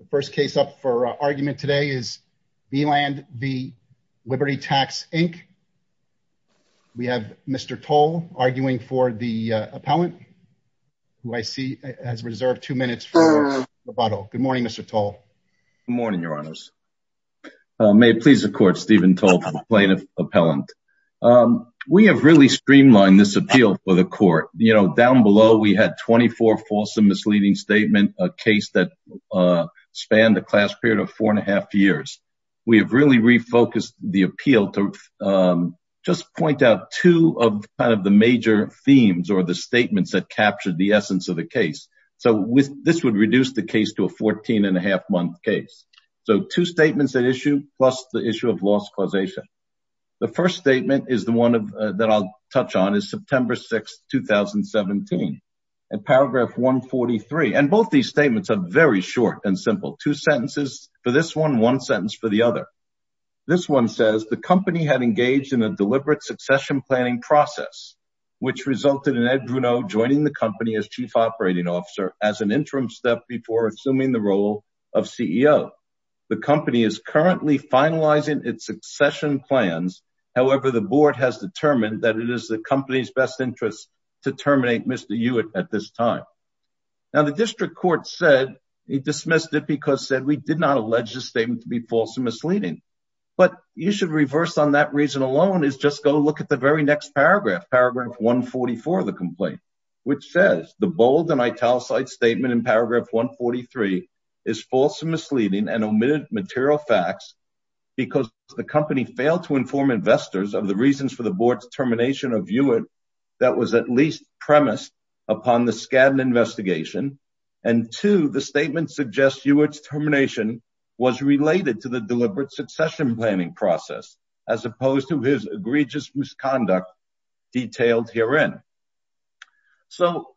The first case up for argument today is Veland v. Liberty Tax, Inc. We have Mr. Toll arguing for the appellant, who I see has reserved two minutes for rebuttal. Good morning, Mr. Toll. Good morning, your honors. May it please the court, Steven Toll, plaintiff, appellant. We have really streamlined this appeal for the court. You know, down below, we had 24 false and misleading statement, a case that spanned a class period of four and a half years. We have really refocused the appeal to just point out two of the major themes or the statements that captured the essence of the case, so this would reduce the case to a 14 and a half month case, so two statements at issue plus the issue of lost causation. The first statement is the one that I'll touch on is September 6th, 2017. And paragraph 143, and both these statements are very short and simple. Two sentences for this one, one sentence for the other. This one says the company had engaged in a deliberate succession planning process, which resulted in Ed Bruno joining the company as chief operating officer as an interim step before assuming the role of CEO. The company is currently finalizing its succession plans. However, the board has determined that it is the company's best interest to terminate Mr. Hewitt at this time. Now the district court said he dismissed it because said we did not allege the statement to be false and misleading, but you should reverse on that reason alone is just go look at the very next paragraph, paragraph 144 of the complaint, which says the bold and italicized statement in paragraph 143 is false and misleading and omitted material facts because the company failed to inform investors of the reasons for the board's termination of Hewitt that was at least premised upon the scan investigation. And two, the statement suggests Hewitt's termination was related to the deliberate succession planning process, as opposed to his egregious misconduct detailed herein. So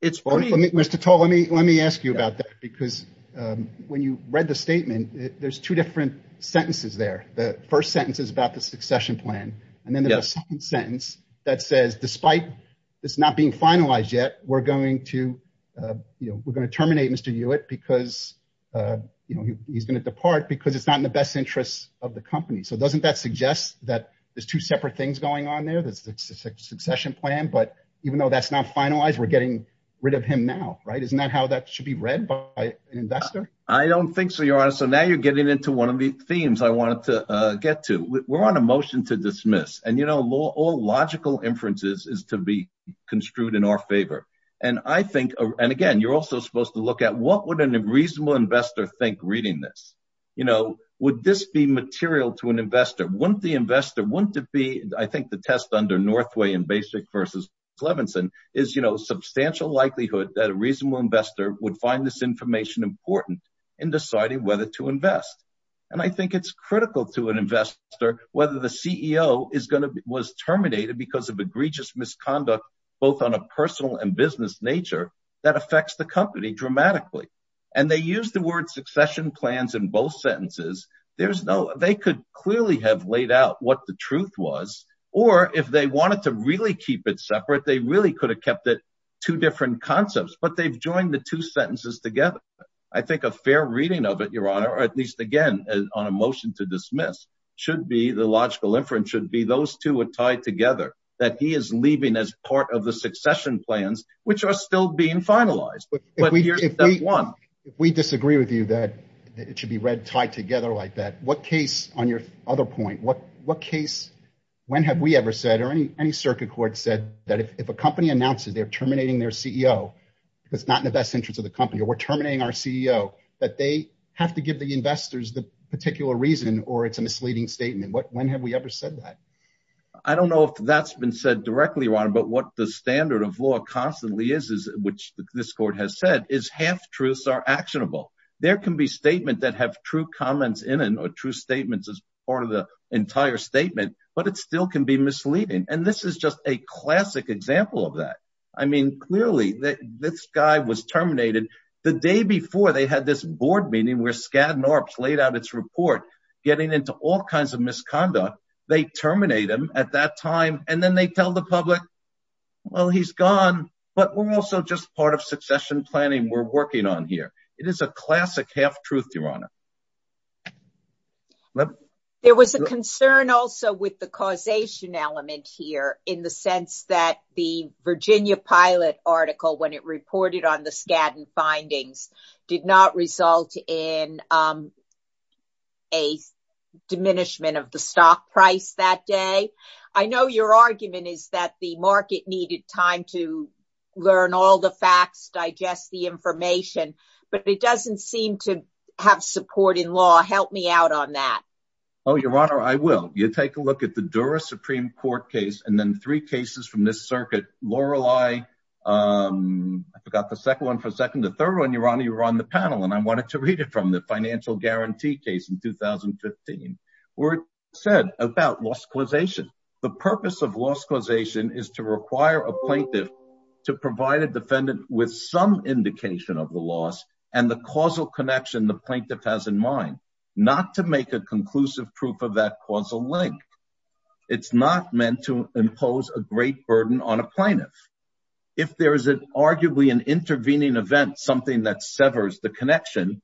it's funny, Mr. Toll, let me, let me ask you about that because when you read the statement, there's two different sentences there. The first sentence is about the succession plan. And then the second sentence that says, despite this not being finalized yet, we're going to, uh, you know, we're going to terminate Mr. Hewitt because, uh, you know, he's going to depart because it's not in the best interests of the company. So doesn't that suggest that there's two separate things going on there? That's the succession plan. But even though that's not finalized, we're getting rid of him now. Right. Isn't that how that should be read by an investor? I don't think so. You're honest. So now you're getting into one of the themes I wanted to, uh, get to we're on a motion to dismiss and, you know, law, all logical inferences is to be construed in our favor. And I think, and again, you're also supposed to look at what would an reasonable investor think reading this? You know, would this be material to an investor? Wouldn't the investor, wouldn't it be, I think the test under Northway and basic versus Clevenson is, you know, substantial likelihood that a reasonable investor would find this information important in deciding whether to invest. And I think it's critical to an investor, whether the CEO is going to be, was terminated because of egregious misconduct, both on a personal and business nature that affects the company dramatically. And they use the word succession plans in both sentences. There's no, they could clearly have laid out what the truth was, or if they wanted to really keep it separate, they really could have kept it two different concepts, but they've joined the two sentences together. I think a fair reading of it, your honor, or at least again, on a motion to dismiss should be the logical inference should be those two are tied together that he is leaving as part of the succession plans, which are still being finalized, but if we disagree with you, that it should be read tied together like that, what case on your other point, what, what case, when have we ever said, or any, any circuit court said that if a company announces they're terminating their CEO, it's not in the best interest of the company, or we're terminating our CEO that they have to give the investors the particular reason, or it's a misleading statement. What, when have we ever said that? I don't know if that's been said directly, Ron, but what the standard of law constantly is, is which this court has said is half truths are actionable. There can be statement that have true comments in it or true statements as part of the entire statement, but it still can be misleading. And this is just a classic example of that. I mean, clearly this guy was terminated the day before they had this board meeting where Skadden or played out its report, getting into all kinds of misconduct, they terminate him at that time. And then they tell the public, well, he's gone, but we're also just part of succession planning we're working on here. It is a classic half truth, Your Honor. There was a concern also with the causation element here in the sense that the Virginia pilot article, when it reported on the Skadden findings, did not result in a diminishment of the stock price that day. I know your argument is that the market needed time to learn all the facts, digest the information, but it doesn't seem to have support in law. Help me out on that. Oh, Your Honor, I will. You take a look at the Dura Supreme Court case and then three cases from this circuit, Lorelei, I forgot the second one for a second. The third one, Your Honor, you were on the panel and I wanted to read it from the financial guarantee case in 2015, where it said about loss causation. The purpose of loss causation is to require a plaintiff to provide a defendant with some indication of the loss and the causal connection the plaintiff has in mind, not to make a conclusive proof of that causal link. It's not meant to impose a great burden on a plaintiff. If there is an arguably an intervening event, something that severs the connection,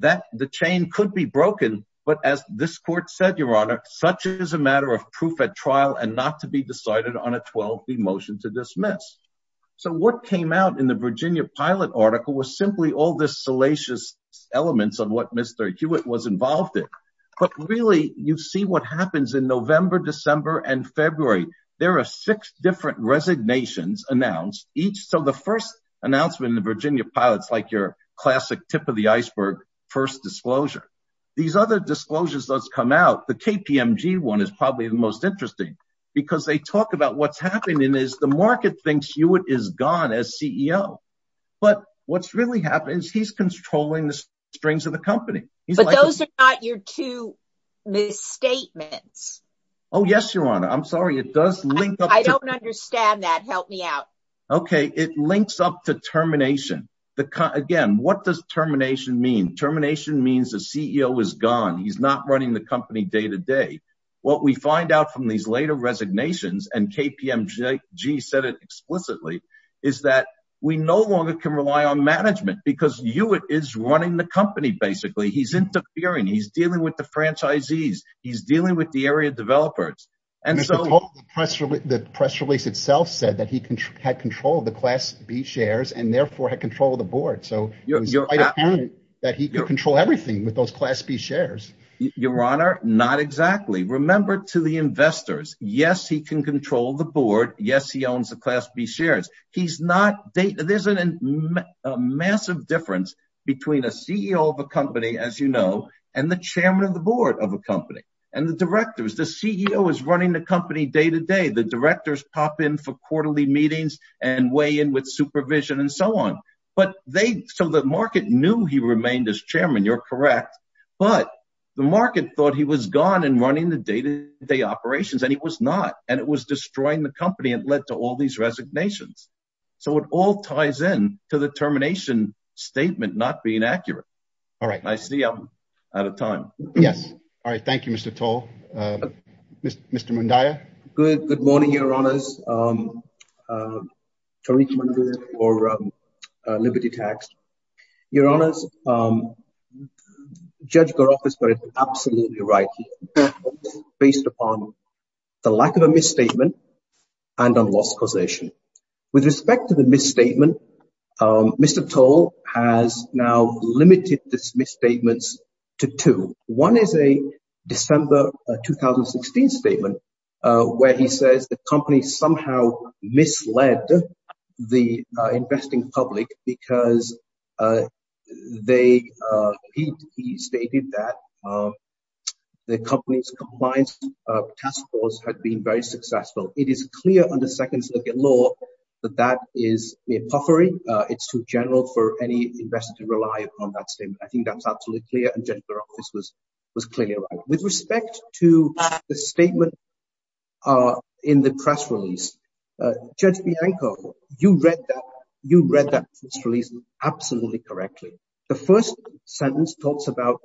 that the chain could be broken. But as this court said, Your Honor, such as a matter of proof at trial and not to be decided on a 12th motion to dismiss. So what came out in the Virginia pilot article was simply all this salacious elements on what Mr. Hewitt was involved in. But really, you see what happens in November, December and February. There are six different resignations announced each. So the first announcement in the Virginia pilots, like your classic tip of the iceberg, first disclosure. These other disclosures that's come out, the KPMG one is probably the most interesting because they talk about what's happening is the market thinks Hewitt is gone as CEO. But what's really happened is he's controlling the strings of the company. But those are not your two misstatements. Oh, yes, Your Honor. I'm sorry. It does link. I don't understand that. Help me out. OK. It links up to termination. Again, what does termination mean? Termination means the CEO is gone. He's not running the company day to day. What we find out from these later resignations and KPMG said it explicitly is that we no longer can rely on management because Hewitt is running the company. Basically, he's interfering. He's dealing with the franchisees. He's dealing with the area developers. And so the press release itself said that he had control of the class B shares and therefore had control of the board. So you're right. That he could control everything with those class B shares. Your Honor. Not exactly. Remember to the investors. Yes, he can control the board. Yes, he owns the class B shares. He's not. There's a massive difference between a CEO of a company, as you know, and the chairman of the board of a company and the directors. The CEO is running the company day to day. The directors pop in for quarterly meetings and weigh in with supervision and so on. But they so the market knew he remained as chairman. You're correct. But the market thought he was gone and running the day to day operations and he was not. And it was destroying the company and led to all these resignations. So it all ties in to the termination statement not being accurate. All right. I see. I'm out of time. Yes. All right. Thank you, Mr. Toll. Mr. Mundia. Good. Good morning, Your Honors. Tariq Mundia for Liberty Tax. Your Honors, Judge Garoff is absolutely right. Based upon the lack of a misstatement and on loss causation with respect to the misstatement, Mr. Toll has now limited this misstatements to two. One is a December 2016 statement where he says the company somehow misled the investing public because they he stated that the company's compliance task force had been very successful. It is clear on the second look at law that that is a puffery. It's too general for any investor to rely upon that statement. I think that's absolutely clear. And Judge Garoff, this was was clearly with respect to the statement in the press release. Judge Bianco, you read that. You read that press release absolutely correctly. The first sentence talks about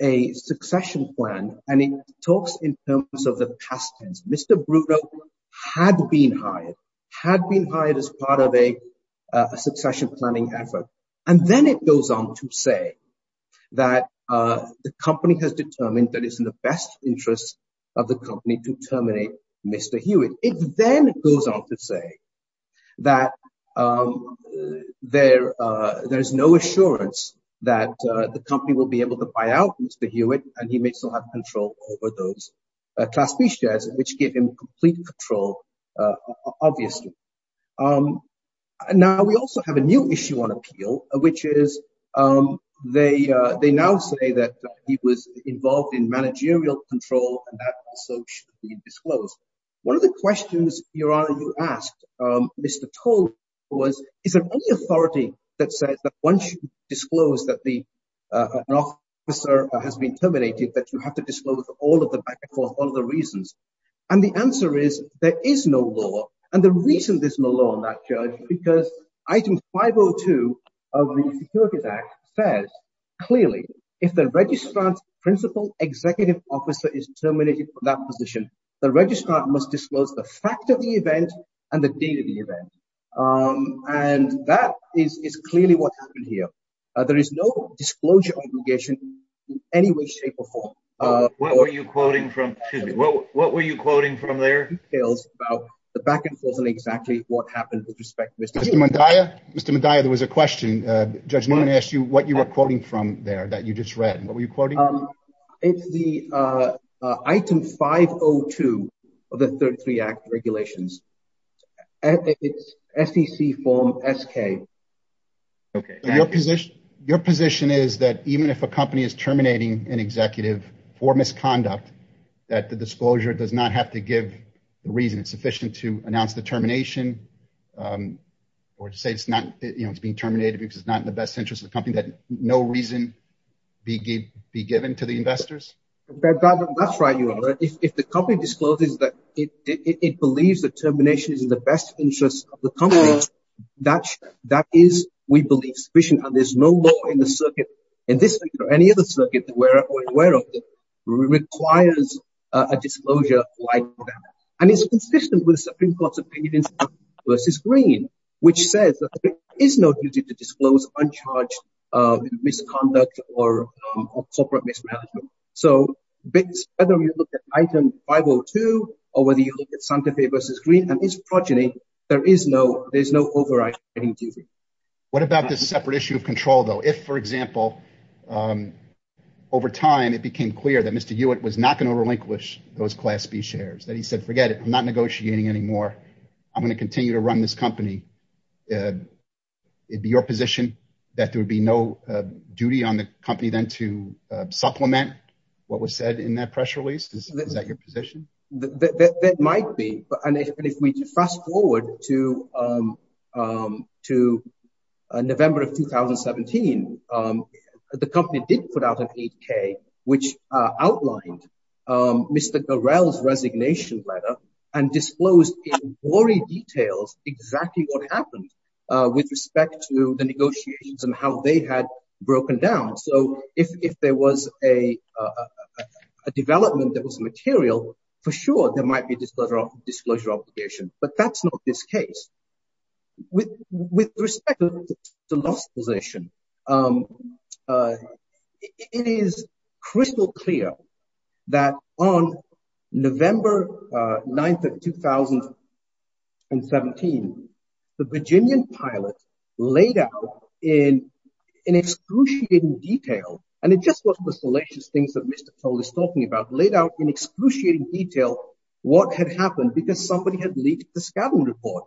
a succession plan, and it talks in terms of the past tense. Mr. Bruno had been hired, had been hired as part of a succession planning effort. And then it goes on to say that the company has determined that it's in the best interest of the company to terminate Mr. Hewitt. It then goes on to say that there there is no assurance that the company will be able to buy out Mr. Hewitt, and he may still have control over those class B shares, which give him complete control, obviously. Now, we also have a new issue on appeal, which is they they now say that he was involved in managerial control. And that so should be disclosed. One of the questions, Your Honor, you asked Mr. Tull was, is there any authority that says that once you disclose that the officer has been terminated, that you have to disclose all of them for all of the reasons? And the answer is there is no law. And the reason there's no law on that, Judge, because item 502 of the Security Act says clearly if the registrant's principal executive officer is terminated from that position, the registrant must disclose the fact of the event and the date of the event. And that is clearly what happened here. There is no disclosure obligation in any way, shape or form. What were you quoting from? Well, what were you quoting from their details about the back and forth on exactly what happened with respect to Mr. Mondaya, Mr. Mondaya? There was a question. Judge Newman asked you what you were quoting from there that you just read. And what were you quoting? It's the item 502 of the 33 Act regulations. And it's SEC form SK. OK, your position, your position is that even if a company is terminating an executive for misconduct, that the disclosure does not have to give the reason it's sufficient to announce the termination or to say it's not being terminated because it's not in the best interest of the company, that no reason be given to the investors? That's right. You know, if the company discloses that it believes the termination is in the best interest of the company, that that is, we believe, sufficient. And there's no law in the circuit in this or any other circuit that we're aware of that requires a disclosure like that. And it's consistent with the Supreme Court's opinion versus Green, which says that there is no duty to disclose uncharged misconduct or corporate mismanagement. So whether you look at item 502 or whether you look at Santa Fe versus Green and its progeny, there is no there's no overriding duty. What about this separate issue of control, though? If, for example, over time, it became clear that Mr. Hewitt was not going to relinquish those class B shares, that he said, forget it, I'm not negotiating anymore. I'm going to continue to run this company. It'd be your position that there would be no duty on the company then to supplement what was said in that press release. Is that your position? That might be. But if we fast forward to to November of 2017, the company did put out an 8K, which outlined Mr. Gorel's resignation letter and disclosed in gory details exactly what happened with respect to the negotiations and how they had broken down. So if there was a development that was material, for sure, there might be disclosure of disclosure obligation. But that's not this case. With with respect to the last position, it is crystal clear that on November 9th of 2017, the Virginian pilot laid out in in excruciating detail. And it just was the salacious things that Mr. Cole is talking about, laid out in excruciating detail what had happened because somebody had leaked the scouting report.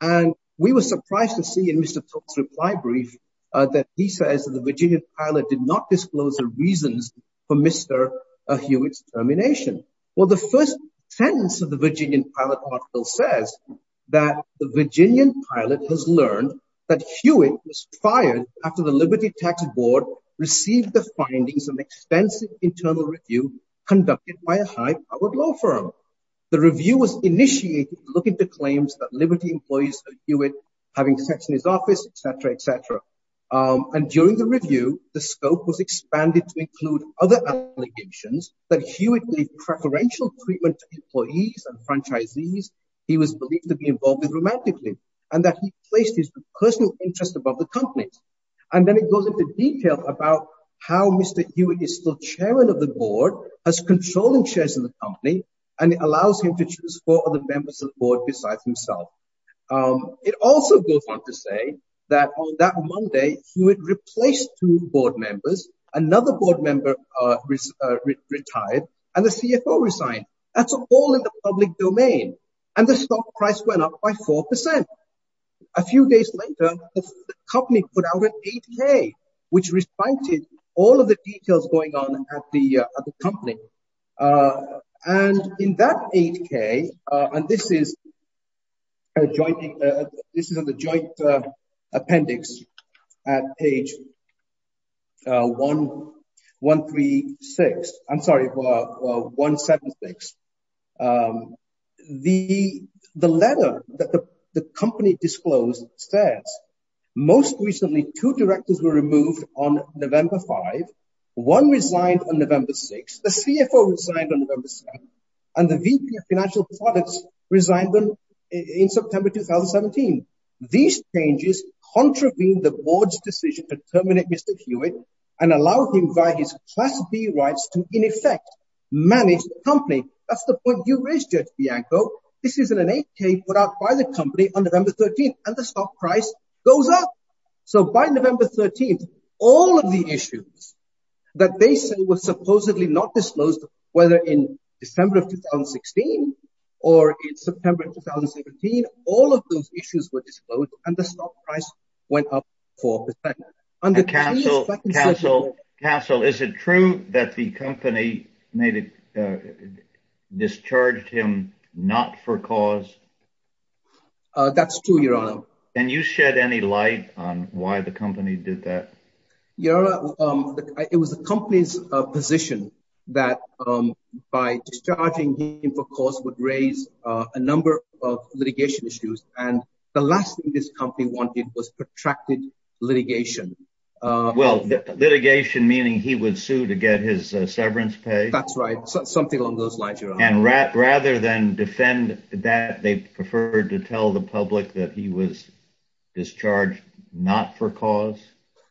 And we were surprised to see in Mr. Pope's reply brief that he says that the Virginian pilot did not disclose the reasons for Mr. Hewitt's termination. Well, the first sentence of the Virginian pilot article says that the Virginian pilot has learned that Hewitt was fired after the Liberty Tax Board received the findings of extensive internal review conducted by a high powered law firm. The review was initiated to look into claims that Liberty employees that Hewitt having sex in his office, et cetera, et cetera. And during the review, the scope was expanded to include other allegations that Hewitt made preferential treatment to employees and franchisees. He was believed to be involved with romantically and that he placed his personal interest above the company. And then it goes into detail about how Mr. Hewitt is still chairman of the board, has controlling shares in the company and allows him to choose for the members of the board besides himself. It also goes on to say that on that Monday, Hewitt replaced two board members, another board member retired and the CFO resigned. That's all in the public domain. And the stock price went up by four percent. A few days later, the company put out an 8K, which refactored all of the details going on at the company. And in that 8K, and this is. A joint, this is a joint appendix at page. One, one, three, six. I'm sorry, one, seven, six. The the letter that the company disclosed says most recently, two directors were removed on November five. One resigned on November six. The CFO resigned on November seven. And the VP of financial products resigned in September 2017. These changes contravene the board's decision to terminate Mr. Hewitt and allow him via his class B rights to, in effect, manage the company. That's the point you raised, Judge Bianco. This is an 8K put out by the company on November 13th. And the stock price goes up. So by November 13th, all of the issues that they say was supposedly not disclosed, whether in December of 2016 or in September of 2017, all of those issues were disclosed and the stock price went up for the time. And the council council council, is it true that the company made it discharged him not for cause? That's true, Your Honor. And you shed any light on why the company did that? Your Honor, it was the company's position that by discharging him for cause would raise a number of litigation issues. And the last thing this company wanted was protracted litigation. Well, litigation, meaning he would sue to get his severance pay. That's right. Something along those lines, Your Honor. And rather than defend that, they preferred to tell the public that he was discharged not for cause.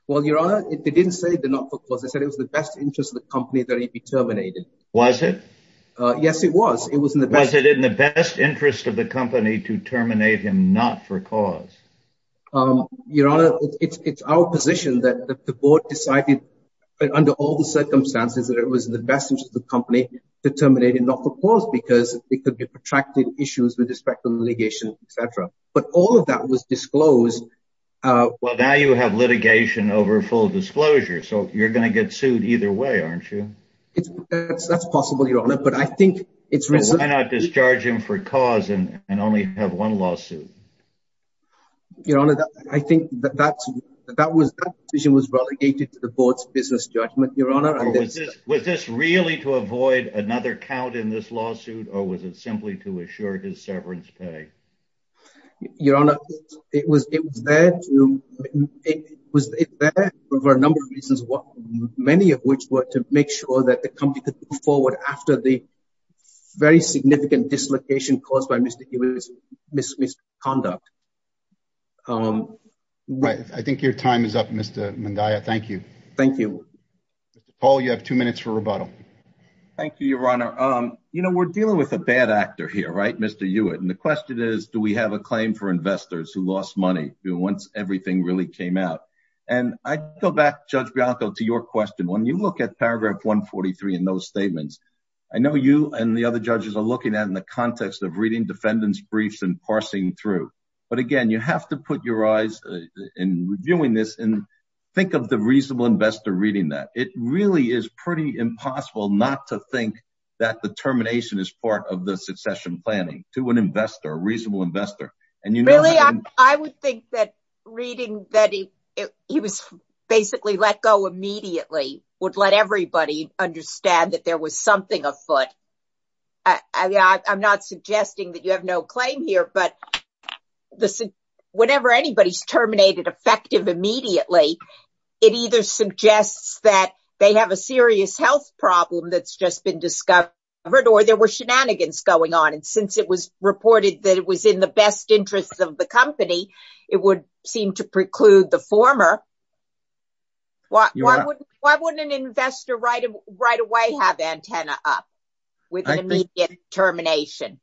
Well, Your Honor, they didn't say the not for cause. They said it was the best interest of the company that he be terminated. Was it? Yes, it was. It was in the best interest of the company to terminate him not for cause. Your Honor, it's our position that the board decided under all the circumstances that it was the best interest of the company to terminate him not for cause because it could be protracted issues with respect to litigation, et cetera. But all of that was disclosed. Well, now you have litigation over full disclosure, so you're going to get sued either way, aren't you? It's that's possible, Your Honor. But I think it's why not discharge him for cause and only have one lawsuit? Your Honor, I think that that's that was that decision was relegated to the board's business judgment, Your Honor. And was this really to avoid another count in this lawsuit or was it simply to assure his severance pay? Your Honor, it was it was there to it was there for a number of reasons, what many of which were to make sure that the company could move forward after the very significant dislocation caused by Mr. Hewitt's misconduct. I think your time is up, Mr. Mandaya. Thank you. Thank you. Paul, you have two minutes for rebuttal. Thank you, Your Honor. You know, we're dealing with a bad actor here, right, Mr. Hewitt, and the question is, do we have a claim for investors who lost money once everything really came out? And I go back, Judge Bianco, to your question. When you look at paragraph 143 in those statements, I know you and the other judges are looking at in the context of reading defendants briefs and parsing through. But again, you have to put your eyes in reviewing this and think of the reasonable investor reading that it really is pretty impossible not to think that the termination is part of the succession planning to an investor, a reasonable investor. And, you know, I would think that reading that he was basically let go immediately would let everybody understand that there was something afoot. I mean, I'm not suggesting that you have no claim here, but the whenever anybody's terminated effective immediately, it either suggests that they have a serious health problem that's just been discovered or there were shenanigans going on. And since it was reported that it was in the best interest of the company, it would seem to preclude the former. Why wouldn't an investor right away have antenna up with an immediate termination?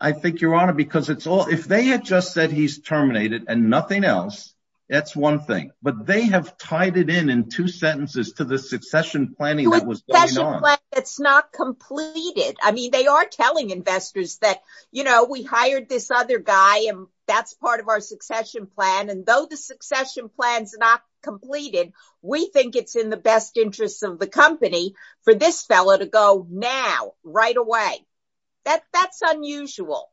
I think, Your Honor, because it's all if they had just said he's terminated and nothing else, that's one thing. But they have tied it in in two sentences to the succession planning that was going on. It's not completed. I mean, they are telling investors that, you know, we hired this other guy and that's part of our succession plan. And though the succession plan is not completed, we think it's in the best interest of the company for this fellow to go now, right away. That that's unusual.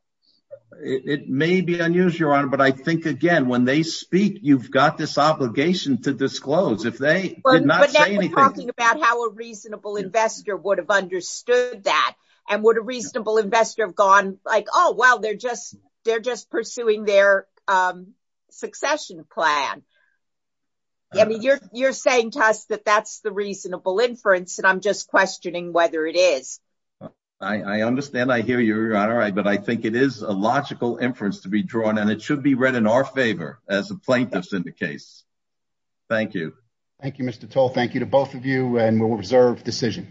It may be unusual, Your Honor, but I think, again, when they speak, you've got this obligation to disclose if they did not say anything about how a reasonable investor would have understood that. And would a reasonable investor have gone like, oh, well, they're just they're just pursuing their succession plan. I mean, you're you're saying to us that that's the reasonable inference, and I'm just questioning whether it is. I understand. I hear you, Your Honor. But I think it is a logical inference to be drawn, and it should be read in our favor as a plaintiff's in the case. Thank you. Thank you, Mr. Toll. Thank you to both of you. And we'll reserve decision.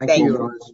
Thank you.